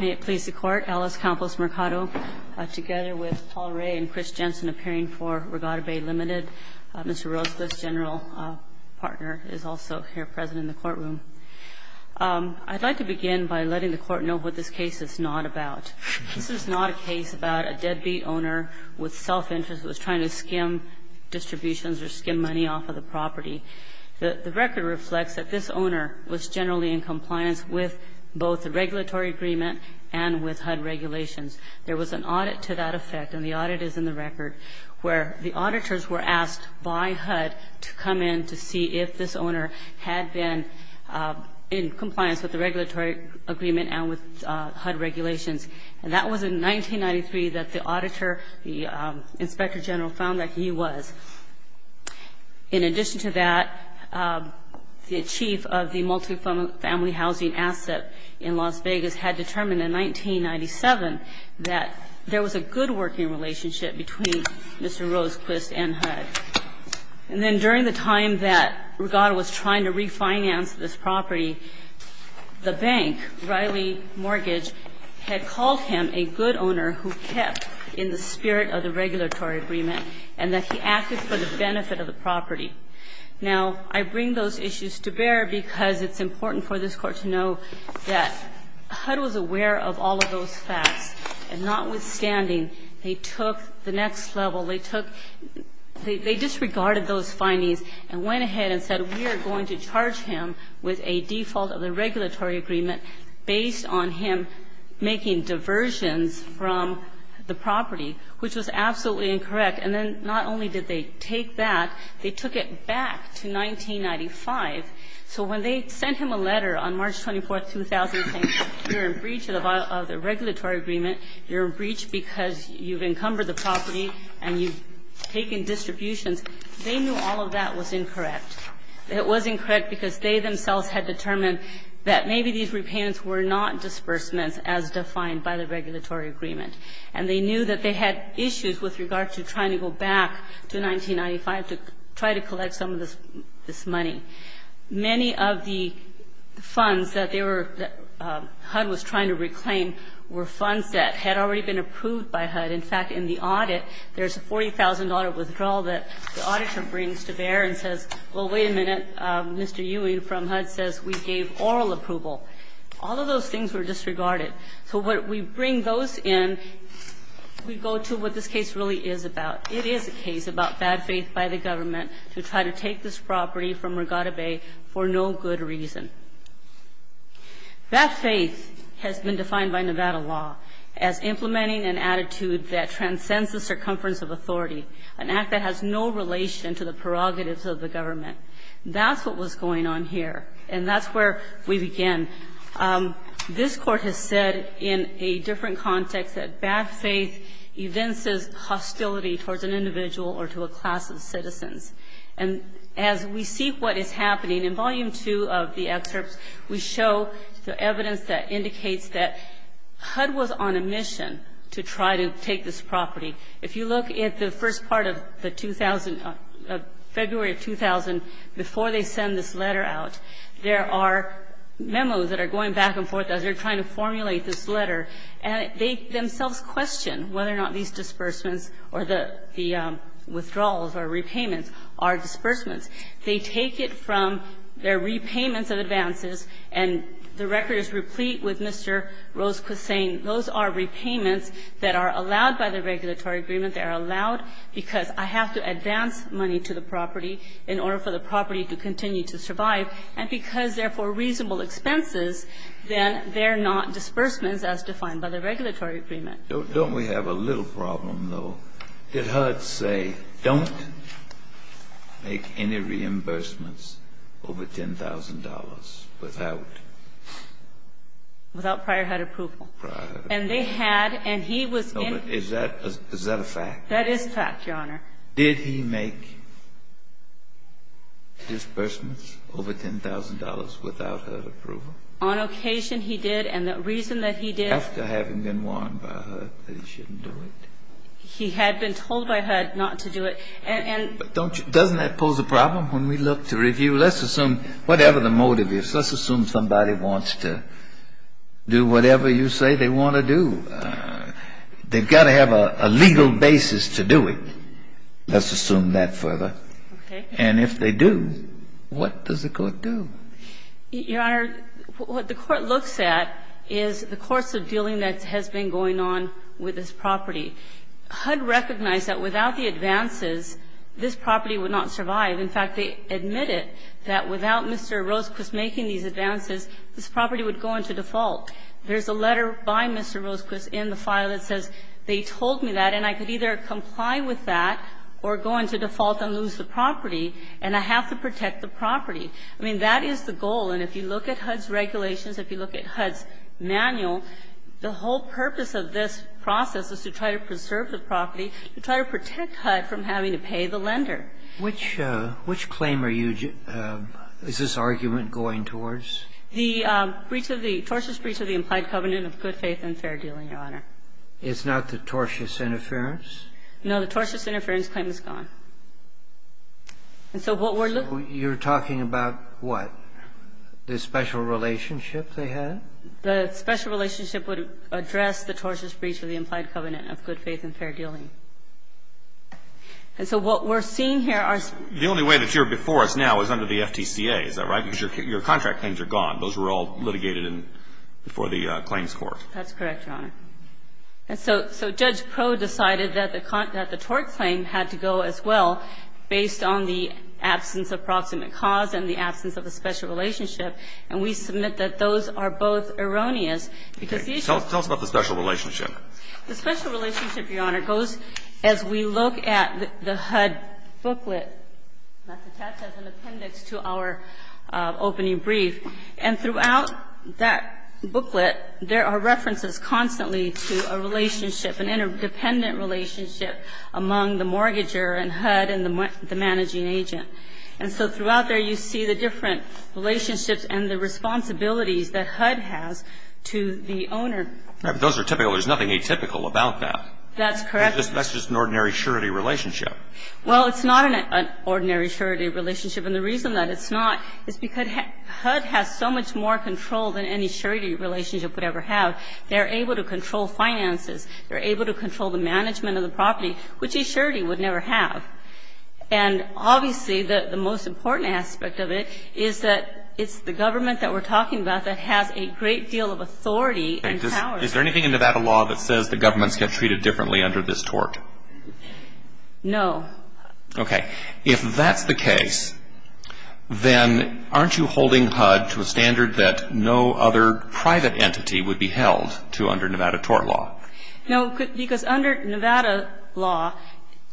May it please the Court, Alice Campos Mercado together with Paul Ray and Chris Jensen appearing for Regatta Bay Limited. Mr. Rosales, General Partner, is also here present in the courtroom. I'd like to begin by letting the Court know what this case is not about. This is not a case about a deadbeat owner with self-interest who was trying to skim distributions or skim money off of the property. The record reflects that this owner was generally in compliance with both the regulatory agreement and with HUD regulations. There was an audit to that effect, and the audit is in the record, where the auditors were asked by HUD to come in to see if this owner had been in compliance with the regulatory agreement and with HUD regulations. And that was in 1993 that the auditor, the Inspector General, found that he was. In addition to that, the chief of the multifamily housing asset in Las Vegas had determined in 1997 that there was a good working relationship between Mr. Rosequist and HUD. And then during the time that Regatta was trying to refinance this property, the bank, Riley Mortgage, had called him a good owner who kept in the spirit of the regulatory agreement and that he acted for the benefit of the property. Now, I bring those issues to bear because it's important for this Court to know that HUD was aware of all of those facts, and notwithstanding, they took the next level. They took the – they disregarded those findings and went ahead and said, we are going to charge him with a default of the regulatory agreement based on him making diversions from the property, which was absolutely incorrect. And then not only did they take that, they took it back to 1995. So when they sent him a letter on March 24, 2000, saying you're in breach of the regulatory agreement, you're in breach because you've encumbered the property and you've taken distributions, they knew all of that was incorrect. It wasn't correct because they themselves had determined that maybe these repayments were not disbursements as defined by the regulatory agreement. And they knew that they had issues with regard to trying to go back to 1995 to try to collect some of this money. Many of the funds that they were – that HUD was trying to reclaim were funds that had already been approved by HUD. In fact, in the audit, there's a $40,000 withdrawal that the auditor brings to bear and says, well, wait a minute, Mr. Ewing from HUD says we gave oral approval. All of those things were disregarded. So when we bring those in, we go to what this case really is about. It is a case about bad faith by the government to try to take this property from Regatta Bay for no good reason. Bad faith has been defined by Nevada law as implementing an attitude that transcends the circumference of authority, an act that has no relation to the prerogatives of the government. That's what was going on here. And that's where we began. This Court has said in a different context that bad faith evinces hostility towards an individual or to a class of citizens. And as we see what is happening, in Volume II of the excerpts, we show the evidence that indicates that HUD was on a mission to try to take this property. If you look at the first part of the 2000, February of 2000, before they send this letter out, there are memos that are going back and forth as they're trying to formulate this letter, and they themselves question whether or not these disbursements or the withdrawals or repayments are disbursements. They take it from their repayments of advances, and the record is replete with Mr. Rosequist saying those are repayments that are allowed by the regulatory agreement. They are allowed because I have to advance money to the property in order for the property to continue to survive. And because they're for reasonable expenses, then they're not disbursements as defined by the regulatory agreement. Don't we have a little problem, though? Did HUD say don't make any reimbursements over $10,000 without? Without prior HUD approval. Prior HUD approval. And they had, and he was in. Is that a fact? That is fact, Your Honor. Did he make disbursements over $10,000 without HUD approval? On occasion he did, and the reason that he did. After having been warned by HUD that he shouldn't do it. He had been told by HUD not to do it. And don't you, doesn't that pose a problem when we look to review? Let's assume whatever the motive is. Let's assume somebody wants to do whatever you say they want to do. They've got to have a legal basis to do it. Let's assume that further. Okay. And if they do, what does the Court do? Your Honor, what the Court looks at is the course of dealing that has been going on with this property. HUD recognized that without the advances, this property would not survive. In fact, they admitted that without Mr. Rosequist making these advances, this property would go into default. There's a letter by Mr. Rosequist in the file that says they told me that and I could either comply with that or go into default and lose the property, and I have to protect the property. I mean, that is the goal. And if you look at HUD's regulations, if you look at HUD's manual, the whole purpose of this process is to try to preserve the property, to try to protect HUD from having to pay the lender. Which claim are you just, is this argument going towards? The breach of the, tortious breach of the implied covenant of good faith and fair dealing, Your Honor. It's not the tortious interference? No, the tortious interference claim is gone. And so what we're looking at here. So you're talking about what? The special relationship they had? The special relationship would address the tortious breach of the implied covenant of good faith and fair dealing. And so what we're seeing here are. The only way that you're before us now is under the FTCA, is that right? Because your contract claims are gone. Those were all litigated in, before the claims court. That's correct, Your Honor. And so Judge Proe decided that the tort claim had to go as well, based on the absence of proximate cause and the absence of a special relationship. And we submit that those are both erroneous. Tell us about the special relationship. The special relationship, Your Honor, goes as we look at the HUD booklet. That's attached as an appendix to our opening brief. And throughout that booklet, there are references constantly to a relationship, an interdependent relationship among the mortgager and HUD and the managing agent. And so throughout there, you see the different relationships and the responsibilities that HUD has to the owner. Those are typical. There's nothing atypical about that. That's correct. That's just an ordinary surety relationship. Well, it's not an ordinary surety relationship. And the reason that it's not is because HUD has so much more control than any surety relationship would ever have. They're able to control finances. They're able to control the management of the property, which a surety would never have. And obviously, the most important aspect of it is that it's the government that we're talking about that has a great deal of authority and power. Is there anything in Nevada law that says the governments get treated differently under this tort? No. Okay. If that's the case, then aren't you holding HUD to a standard that no other private entity would be held to under Nevada tort law? No. Because under Nevada law,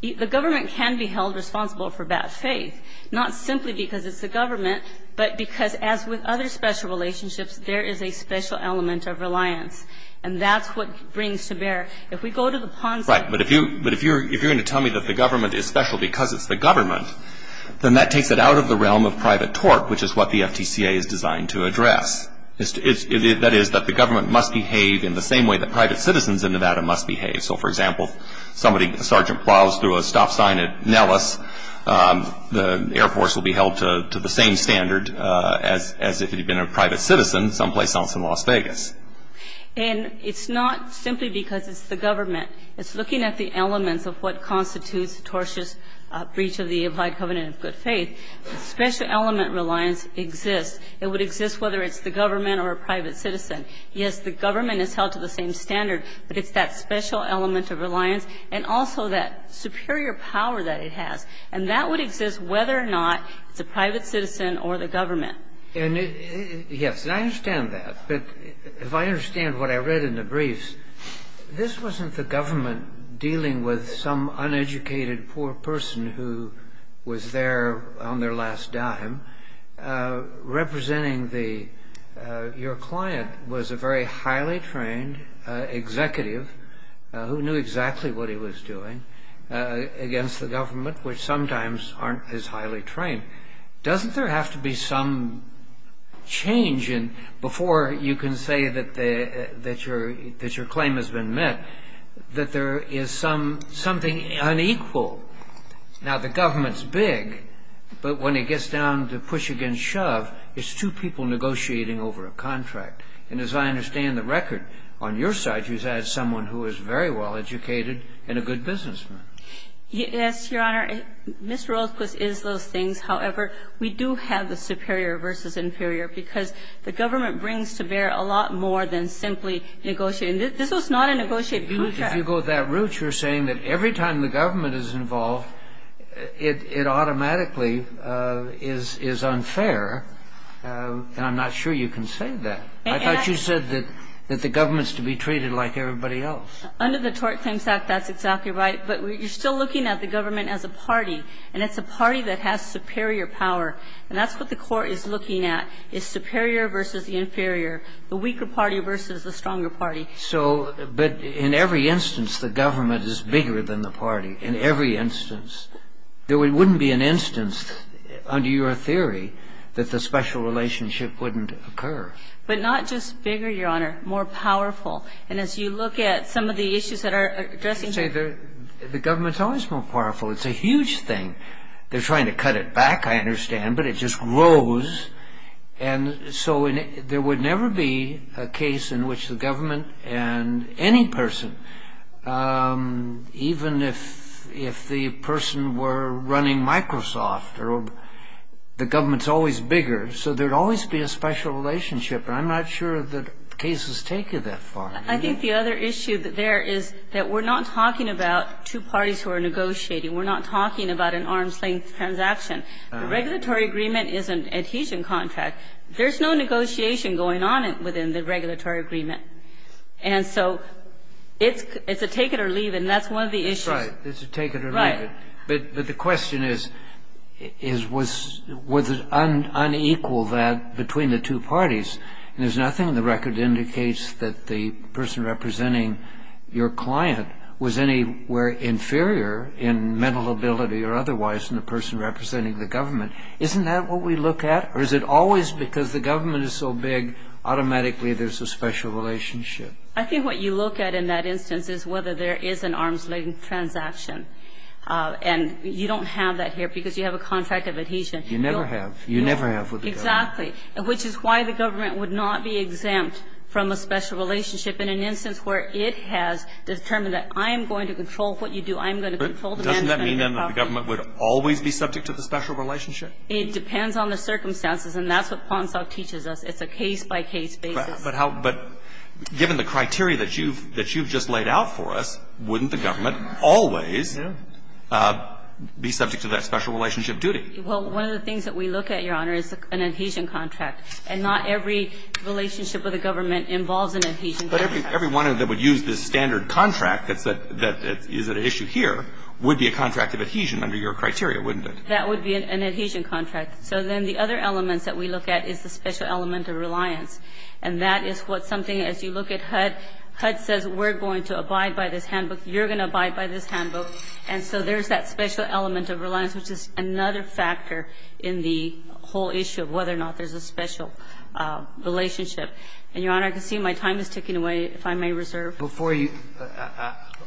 the government can be held responsible for bad faith, not simply because it's the government, but because as with other special relationships, there is a special element of reliance. And that's what brings to bear. If we go to the Ponzi scheme. Right. But if you're going to tell me that the government is special because it's the government, then that takes it out of the realm of private tort, which is what the FTCA is designed to address. That is, that the government must behave in the same way that private citizens in Nevada must behave. So, for example, if a Sergeant plows through a stop sign at Nellis, the Air Force will be held to the same standard as if it had been a private citizen someplace else in Las Vegas. And it's not simply because it's the government. It's looking at the elements of what constitutes tortious breach of the applied covenant of good faith. Special element reliance exists. It would exist whether it's the government or a private citizen. Yes, the government is held to the same standard, but it's that special element of reliance and also that superior power that it has. And that would exist whether or not it's a private citizen or the government. And, yes, and I understand that. But if I understand what I read in the briefs, this wasn't the government dealing with some uneducated poor person who was there on their last dime representing the... Your client was a very highly trained executive who knew exactly what he was doing against the government, which sometimes aren't as highly trained. Doesn't there have to be some change? And before you can say that your claim has been met, that there is something unequal. Now, the government's big, but when it gets down to push against shove, it's two people negotiating over a contract. And as I understand the record, on your side you had someone who was very well educated and a good businessman. Yes, Your Honor. Ms. Rothquist is those things. However, we do have the superior versus inferior because the government brings to bear a lot more than simply negotiating. This was not a negotiated contract. If you go that route, you're saying that every time the government is involved, it automatically is unfair. And I'm not sure you can say that. I thought you said that the government's to be treated like everybody else. Under the Tort Claims Act, that's exactly right. But you're still looking at the government as a party, and it's a party that has superior power. And that's what the Court is looking at, is superior versus the inferior, the weaker party versus the stronger party. So, but in every instance, the government is bigger than the party. In every instance. There wouldn't be an instance, under your theory, that the special relationship wouldn't occur. But not just bigger, Your Honor. More powerful. And as you look at some of the issues that are addressing here. I would say the government's always more powerful. It's a huge thing. They're trying to cut it back, I understand, but it just grows. And so there would never be a case in which the government and any person, even if the person were running Microsoft, the government's always bigger. So there would always be a special relationship. And I'm not sure that cases take you that far. I think the other issue there is that we're not talking about two parties who are negotiating. We're not talking about an arm's-length transaction. The regulatory agreement is an adhesion contract. There's no negotiation going on within the regulatory agreement. And so it's a take it or leave it, and that's one of the issues. That's right. It's a take it or leave it. Right. But the question is, was it unequal that between the two parties? And there's nothing in the record that indicates that the person representing your client was anywhere inferior in mental ability or otherwise than the person representing the government. Isn't that what we look at? Or is it always because the government is so big, automatically there's a special relationship? I think what you look at in that instance is whether there is an arm's-length transaction. And you don't have that here because you have a contract of adhesion. You never have. You never have with the government. Exactly. Which is why the government would not be exempt from a special relationship in an instance where it has determined that I am going to control what you do, I'm going to control the manufacturing property. Doesn't that mean, then, that the government would always be subject to the special relationship? It depends on the circumstances, and that's what PONSOC teaches us. It's a case-by-case basis. But how – but given the criteria that you've – that you've just laid out for us, wouldn't the government always be subject to that special relationship duty? Well, one of the things that we look at, Your Honor, is an adhesion contract. And not every relationship with the government involves an adhesion contract. But every one of them would use this standard contract that's at – that is at issue here would be a contract of adhesion under your criteria, wouldn't it? That would be an adhesion contract. So then the other elements that we look at is the special element of reliance. And that is what something – as you look at HUD, HUD says we're going to abide by this handbook, you're going to abide by this handbook. And so there's that special element of reliance, which is another factor in the whole issue of whether or not there's a special relationship. And, Your Honor, I can see my time is ticking away, if I may reserve. Before you –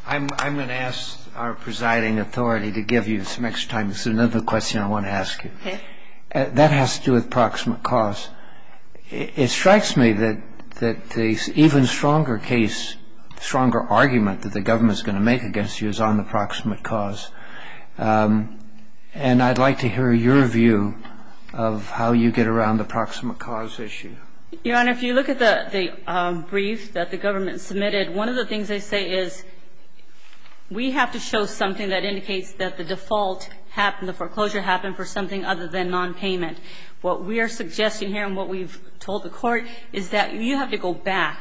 I'm going to ask our presiding authority to give you some extra time because there's another question I want to ask you. Okay. That has to do with proximate cause. It strikes me that the even stronger case, stronger argument that the government is going to make against you is on the proximate cause. And I'd like to hear your view of how you get around the proximate cause issue. Your Honor, if you look at the brief that the government submitted, one of the things they say is we have to show something that indicates that the default happened, the foreclosure happened for something other than nonpayment. What we are suggesting here and what we've told the Court is that you have to go back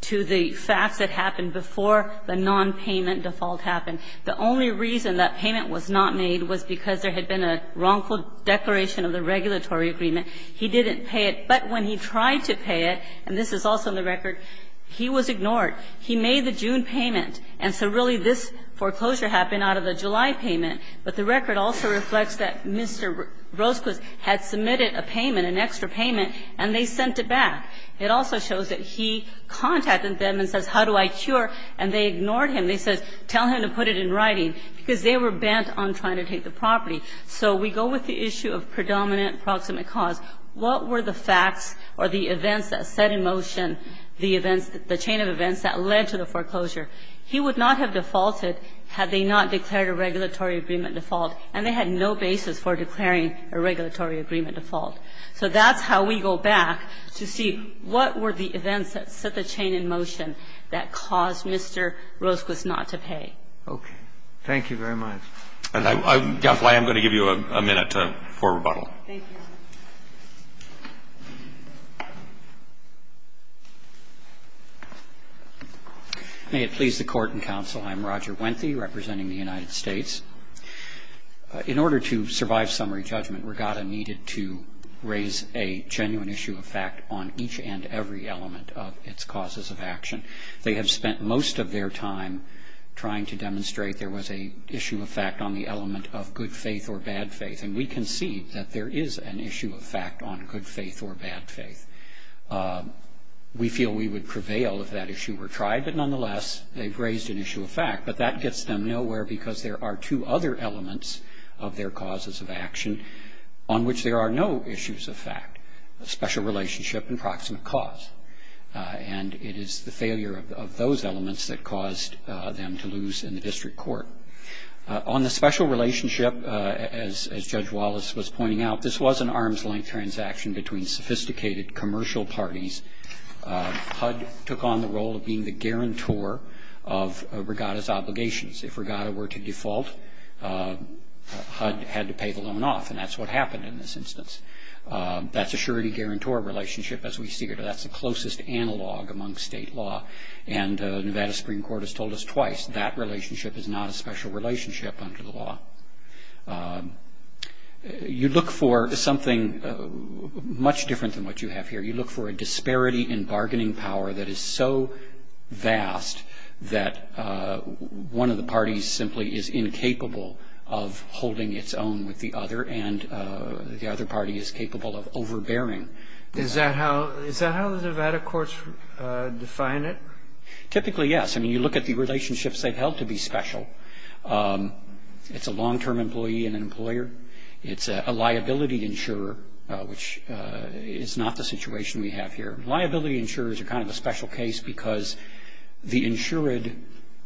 to the facts that happened before the nonpayment default happened. The only reason that payment was not made was because there had been a wrongful declaration of the regulatory agreement. He didn't pay it. But when he tried to pay it, and this is also in the record, he was ignored. He made the June payment. And so really this foreclosure happened out of the July payment. But the record also reflects that Mr. Rosquiz had submitted a payment, an extra payment, and they sent it back. It also shows that he contacted them and says, how do I cure? And they ignored him. They said, tell him to put it in writing, because they were bent on trying to take the property. So we go with the issue of predominant proximate cause. What were the facts or the events that set in motion the events, the chain of events that led to the foreclosure? He would not have defaulted had they not declared a regulatory agreement default, and they had no basis for declaring a regulatory agreement default. So that's how we go back to see what were the events that set the chain in motion that caused Mr. Rosquiz not to pay. Okay. Thank you very much. I'm going to give you a minute for rebuttal. Thank you. May it please the Court and counsel, I'm Roger Wenthy representing the United States. In order to survive summary judgment, Regatta needed to raise a genuine issue of fact on each and every element of its causes of action. They have spent most of their time trying to demonstrate there was an issue of fact on the element of good faith or bad faith, and we concede that there is an issue of fact on good faith or bad faith. We feel we would prevail if that issue were tried, but nonetheless, they've of their causes of action on which there are no issues of fact, a special relationship and proximate cause. And it is the failure of those elements that caused them to lose in the district court. On the special relationship, as Judge Wallace was pointing out, this was an arm's length transaction between sophisticated commercial parties. HUD took on the role of being the guarantor of Regatta's obligations. If Regatta were to default, HUD had to pay the loan off, and that's what happened in this instance. That's a surety-guarantor relationship, as we see here. That's the closest analog among state law, and Nevada Supreme Court has told us twice that relationship is not a special relationship under the law. You look for something much different than what you have here. You look for a disparity in bargaining power that is so vast that one of the parties simply is incapable of holding its own with the other, and the other party is capable of overbearing. Is that how the Nevada courts define it? Typically, yes. I mean, you look at the relationships they've held to be special. It's a long-term employee and an employer. It's a liability insurer, which is not the situation we have here. Liability insurers are kind of a special case because the insured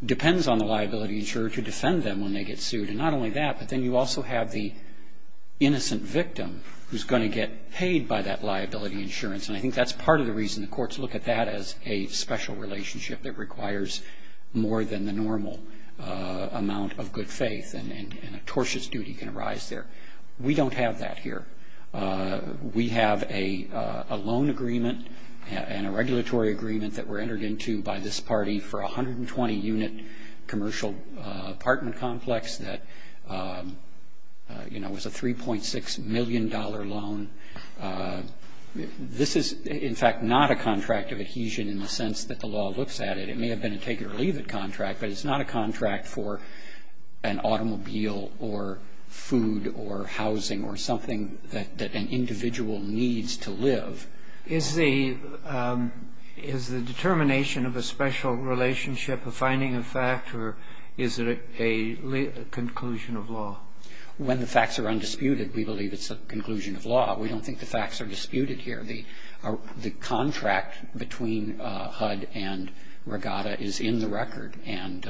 depends on the liability insurer to defend them when they get sued. And not only that, but then you also have the innocent victim who's going to get paid by that liability insurance. And I think that's part of the reason the courts look at that as a special relationship that requires more than the normal amount of good faith, and a tortious duty can arise there. We don't have that here. We have a loan agreement and a regulatory agreement that were entered into by this party for a 120-unit commercial apartment complex that, you know, was a $3.6 million loan. This is, in fact, not a contract of adhesion in the sense that the law looks at it. It may have been a take-it-or-leave-it contract, but it's not a contract for an automobile or food or housing or something that an individual needs to live. Is the determination of a special relationship a finding of fact, or is it a conclusion of law? When the facts are undisputed, we believe it's a conclusion of law. We don't think the facts are disputed here. The contract between HUD and Regatta is in the record. And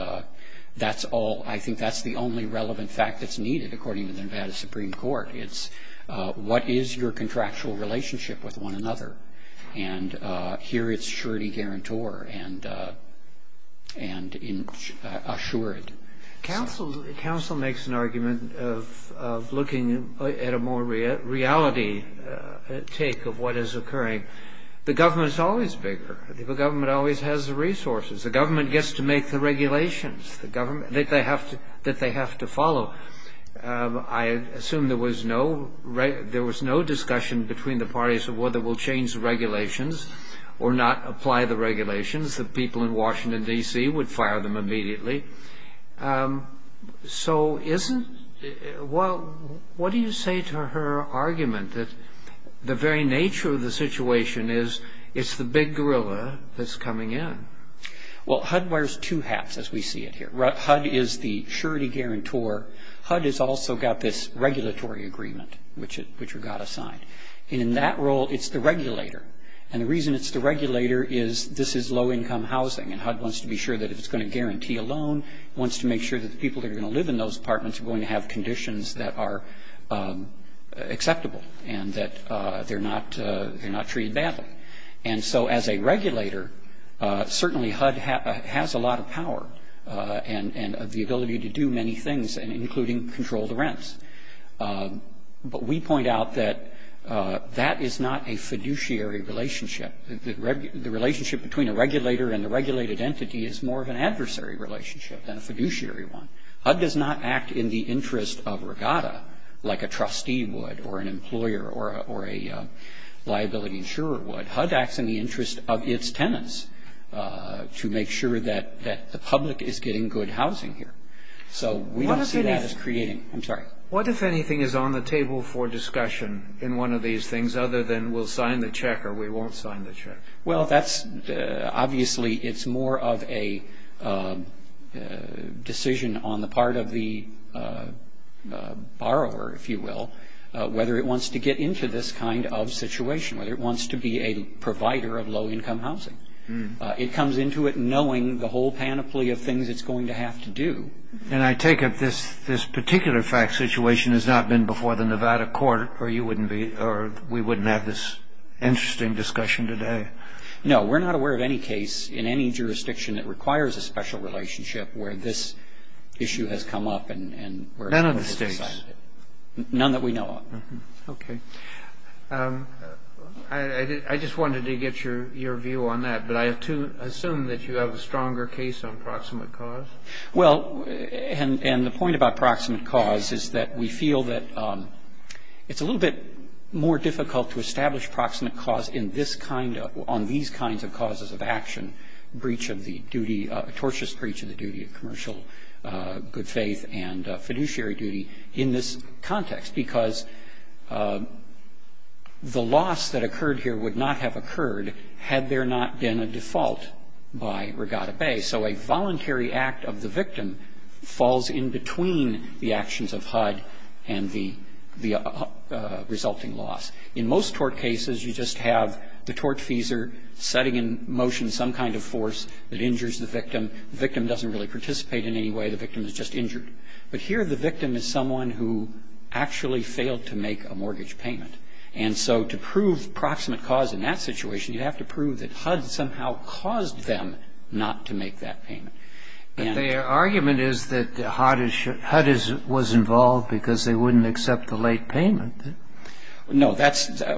that's all – I think that's the only relevant fact that's needed, according to the Nevada Supreme Court. It's what is your contractual relationship with one another. And here it's surety guarantor and assured. Counsel makes an argument of looking at a more reality take of what is occurring. The government is always bigger. The government always has the resources. The government gets to make the regulations that they have to follow. I assume there was no discussion between the parties of whether we'll change the regulations or not apply the regulations. The people in Washington, D.C. would fire them immediately. So what do you say to her argument that the very nature of the situation is it's the big gorilla that's coming in? Well, HUD wears two hats, as we see it here. HUD is the surety guarantor. HUD has also got this regulatory agreement, which Regatta signed. And in that role, it's the regulator. And the reason it's the regulator is this is low-income housing. And HUD wants to be sure that if it's going to guarantee a loan, it wants to make sure that the people that are going to live in those apartments are going to have conditions that are acceptable and that they're not treated badly. And so as a regulator, certainly HUD has a lot of power and the ability to do many things, including control the rents. But we point out that that is not a fiduciary relationship. The relationship between a regulator and the regulated entity is more of an adversary relationship than a fiduciary one. HUD does not act in the interest of Regatta like a trustee would or an employer or a liability insurer would. HUD acts in the interest of its tenants to make sure that the public is getting good housing here. So we don't see that as creating. I'm sorry. What, if anything, is on the table for discussion in one of these things other than we'll sign the check or we won't sign the check? Well, that's obviously it's more of a decision on the part of the borrower, if you will, whether it wants to get into this kind of situation, whether it wants to be a provider of low-income housing. It comes into it knowing the whole panoply of things it's going to have to do. And I take it this particular fact situation has not been before the Nevada court or we wouldn't have this interesting discussion today? No. We're not aware of any case in any jurisdiction that requires a special relationship where this issue has come up and where it's decided. None of the states? None that we know of. Okay. I just wanted to get your view on that. But I assume that you have a stronger case on proximate cause? Well, and the point about proximate cause is that we feel that it's a little bit more difficult to establish proximate cause on these kinds of causes of action, breach of the duty, tortious breach of the duty of commercial good faith and fiduciary duty in this context, because the loss that occurred here would not have occurred had there not been a default by Regatta Bay. So a voluntary act of the victim falls in between the actions of HUD and the resulting loss. In most tort cases, you just have the tortfeasor setting in motion some kind of force that injures the victim. The victim doesn't really participate in any way. The victim is just injured. But here the victim is someone who actually failed to make a mortgage payment. And so to prove proximate cause in that situation, you have to prove that HUD somehow caused them not to make that payment. But their argument is that HUD was involved because they wouldn't accept the late payment. No.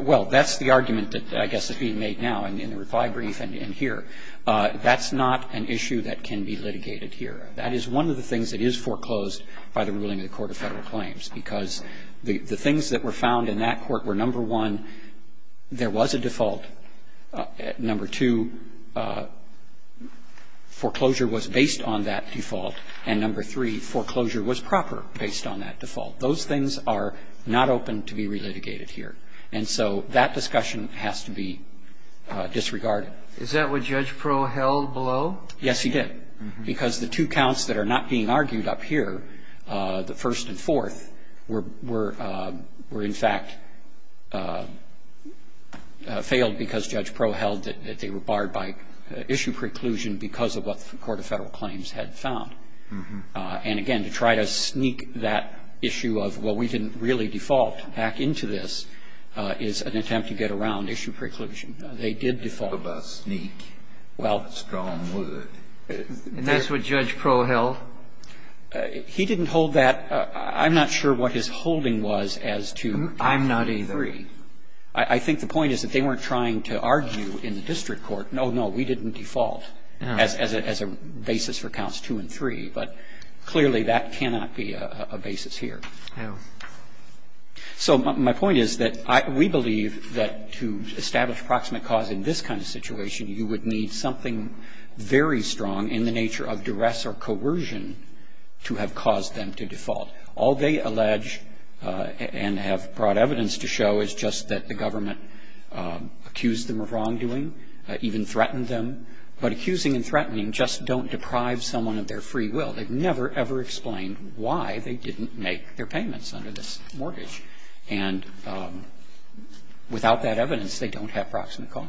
Well, that's the argument that I guess is being made now in the reply brief and here. That's not an issue that can be litigated here. That is one of the things that is foreclosed by the ruling of the Court of Federal Claims, because the things that were found in that court were, number one, there was a default. Number two, foreclosure was based on that default. And number three, foreclosure was proper based on that default. Those things are not open to be relitigated here. And so that discussion has to be disregarded. Is that what Judge Prowell held below? Yes, he did. Because the two counts that are not being argued up here, the first and fourth, were in fact failed because Judge Prowell held that they were barred by issue preclusion because of what the Court of Federal Claims had found. And again, to try to sneak that issue of, well, we didn't really default back into this, is an attempt to get around issue preclusion. They did default. And that's what Judge Prowell held. He didn't hold that. I'm not sure what his holding was as to counts 2 and 3. I'm not either. I think the point is that they weren't trying to argue in the district court, no, no, we didn't default as a basis for counts 2 and 3. But clearly that cannot be a basis here. So my point is that we believe that to establish proximate cause in this kind of situation you would need something very strong in the nature of duress or coercion to have caused them to default. All they allege and have brought evidence to show is just that the government accused them of wrongdoing, even threatened them. But accusing and threatening just don't deprive someone of their free will. They've never, ever explained why they didn't make their payments under this mortgage. And without that evidence, they don't have proximate cause.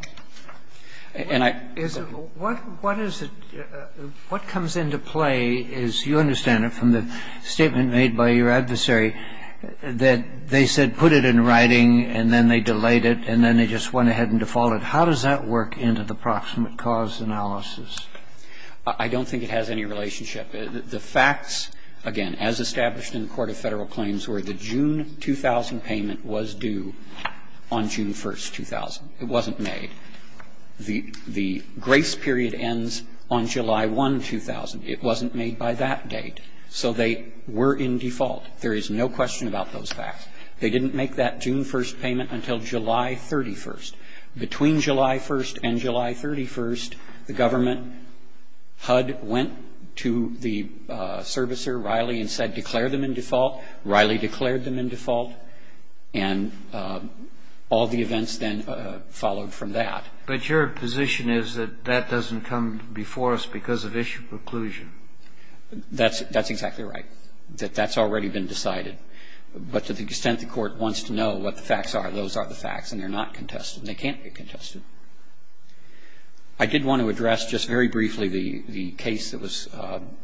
What is it – what comes into play, as you understand it, from the statement made by your adversary, that they said, put it in writing, and then they delayed it, and then they just went ahead and defaulted. How does that work into the proximate cause analysis? I don't think it has any relationship. The facts, again, as established in the Court of Federal Claims, were the June 2000 payment was due on June 1st, 2000. It wasn't made. The grace period ends on July 1, 2000. It wasn't made by that date. So they were in default. There is no question about those facts. They didn't make that June 1st payment until July 31st. Between July 1st and July 31st, the government HUD went to the servicer, Riley, and said, declare them in default. Riley declared them in default, and all the events then followed from that. But your position is that that doesn't come before us because of issue preclusion. That's exactly right, that that's already been decided. But to the extent the Court wants to know what the facts are, those are the facts, and they're not contested. They can't be contested. I did want to address just very briefly the case that was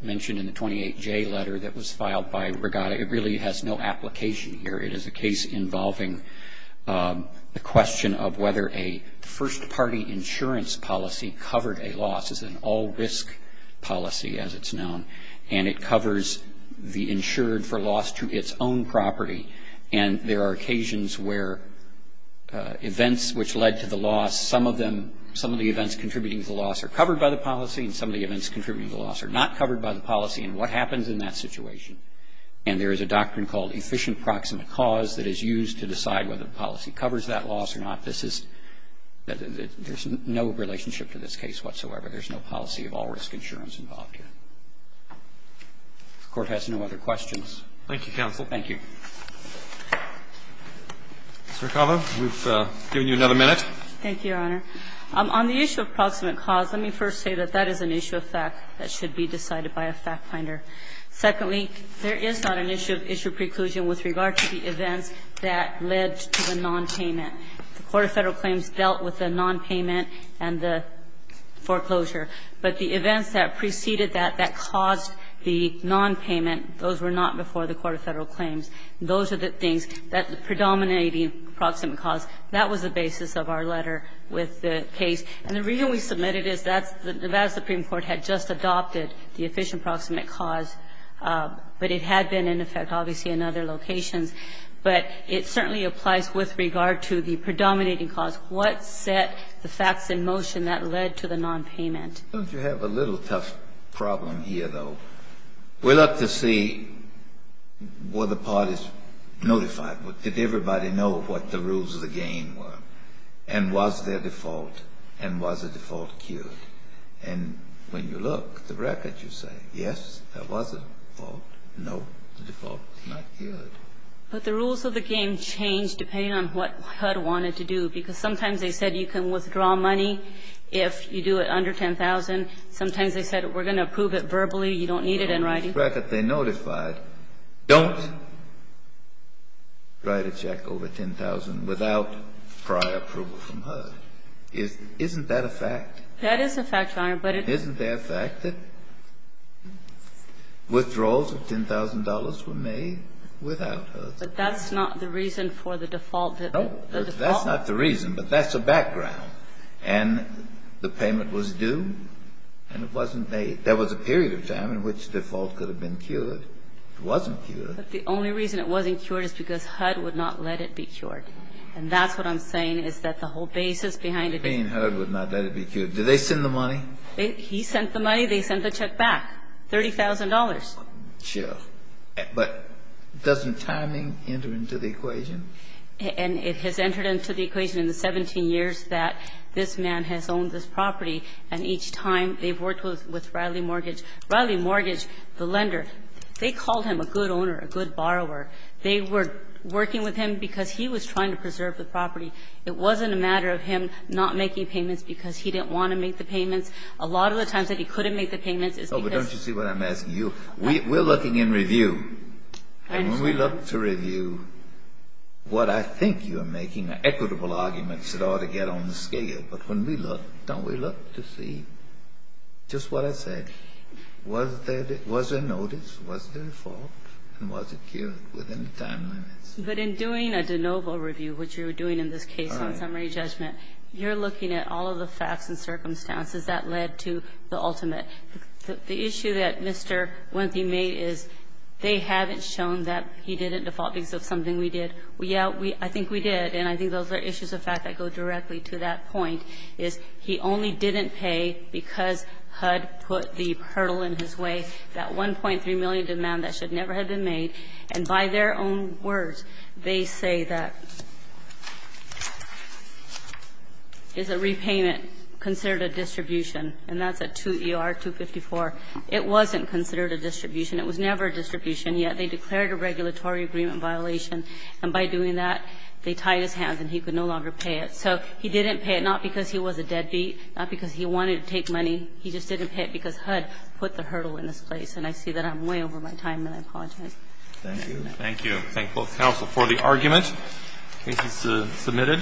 mentioned in the 28J letter that was filed by Regatta. It really has no application here. It is a case involving the question of whether a first-party insurance policy covered a loss. It's an all-risk policy, as it's known, and it covers the insured for loss to its own property. And there are occasions where events which led to the loss, some of them, some of the events contributing to the loss are covered by the policy, and some of the events contributing to the loss are not covered by the policy. And what happens in that situation? And there is a doctrine called efficient proximate cause that is used to decide whether the policy covers that loss or not. This is no relationship to this case whatsoever. There's no policy of all-risk insurance involved here. If the Court has no other questions. Thank you, counsel. Thank you. Mr. Acaba, we've given you another minute. Thank you, Your Honor. On the issue of proximate cause, let me first say that that is an issue of fact that should be decided by a fact finder. Secondly, there is not an issue of issue preclusion with regard to the events that led to the nonpayment. The Court of Federal Claims dealt with the nonpayment and the foreclosure. But the events that preceded that, that caused the nonpayment, those were not before the Court of Federal Claims. Those are the things that predominate the proximate cause. That was the basis of our letter with the case. And the reason we submitted it is that the Nevada Supreme Court had just adopted the efficient proximate cause, but it had been in effect, obviously, in other locations. But it certainly applies with regard to the predominating cause. What set the facts in motion that led to the nonpayment? Don't you have a little tough problem here, though? We look to see were the parties notified? Did everybody know what the rules of the game were? And was there default? And was the default cued? And when you look at the record, you say, yes, there was a default. No, the default was not cued. But the rules of the game changed depending on what HUD wanted to do, because sometimes they said you can withdraw money if you do it under $10,000. Sometimes they said we're going to approve it verbally. You don't need it in writing. The rules of the record they notified, don't write a check over $10,000 without prior approval from HUD. Isn't that a fact? That is a fact, Your Honor, but it isn't. Isn't there a fact that withdrawals of $10,000 were made without HUD? But that's not the reason for the default. No, that's not the reason, but that's a background. And the payment was due and it wasn't made. There was a period of time in which default could have been cured. It wasn't cured. But the only reason it wasn't cured is because HUD would not let it be cured. And that's what I'm saying, is that the whole basis behind it. Being HUD would not let it be cured. Did they send the money? He sent the money. They sent the check back, $30,000. Sure. But doesn't timing enter into the equation? And it has entered into the equation in the 17 years that this man has owned this property, and each time they've worked with Riley Mortgage. Riley Mortgage, the lender, they called him a good owner, a good borrower. They were working with him because he was trying to preserve the property. It wasn't a matter of him not making payments because he didn't want to make the payments. A lot of the times that he couldn't make the payments is because. Oh, but don't you see what I'm asking you? We're looking in review. I understand. And when we look to review, what I think you are making are equitable arguments that ought to get on the scale. But when we look, don't we look to see just what I said? Was there notice? Was there default? And was it cured within the time limits? But in doing a de novo review, which you're doing in this case in summary judgment, you're looking at all of the facts and circumstances that led to the ultimate. The issue that Mr. Wentley made is they haven't shown that he didn't default because of something we did. Yeah, I think we did. And I think those are issues of fact that go directly to that point, is he only didn't pay because HUD put the hurdle in his way, that $1.3 million demand that should have been paid, they say that is a repayment considered a distribution, and that's a 2ER-254. It wasn't considered a distribution. It was never a distribution. Yet they declared a regulatory agreement violation. And by doing that, they tied his hands and he could no longer pay it. So he didn't pay it, not because he was a deadbeat, not because he wanted to take money. He just didn't pay it because HUD put the hurdle in his place. And I see that I'm way over my time, and I apologize. Thank you. Thank you. Thank both counsel for the argument. Case is submitted.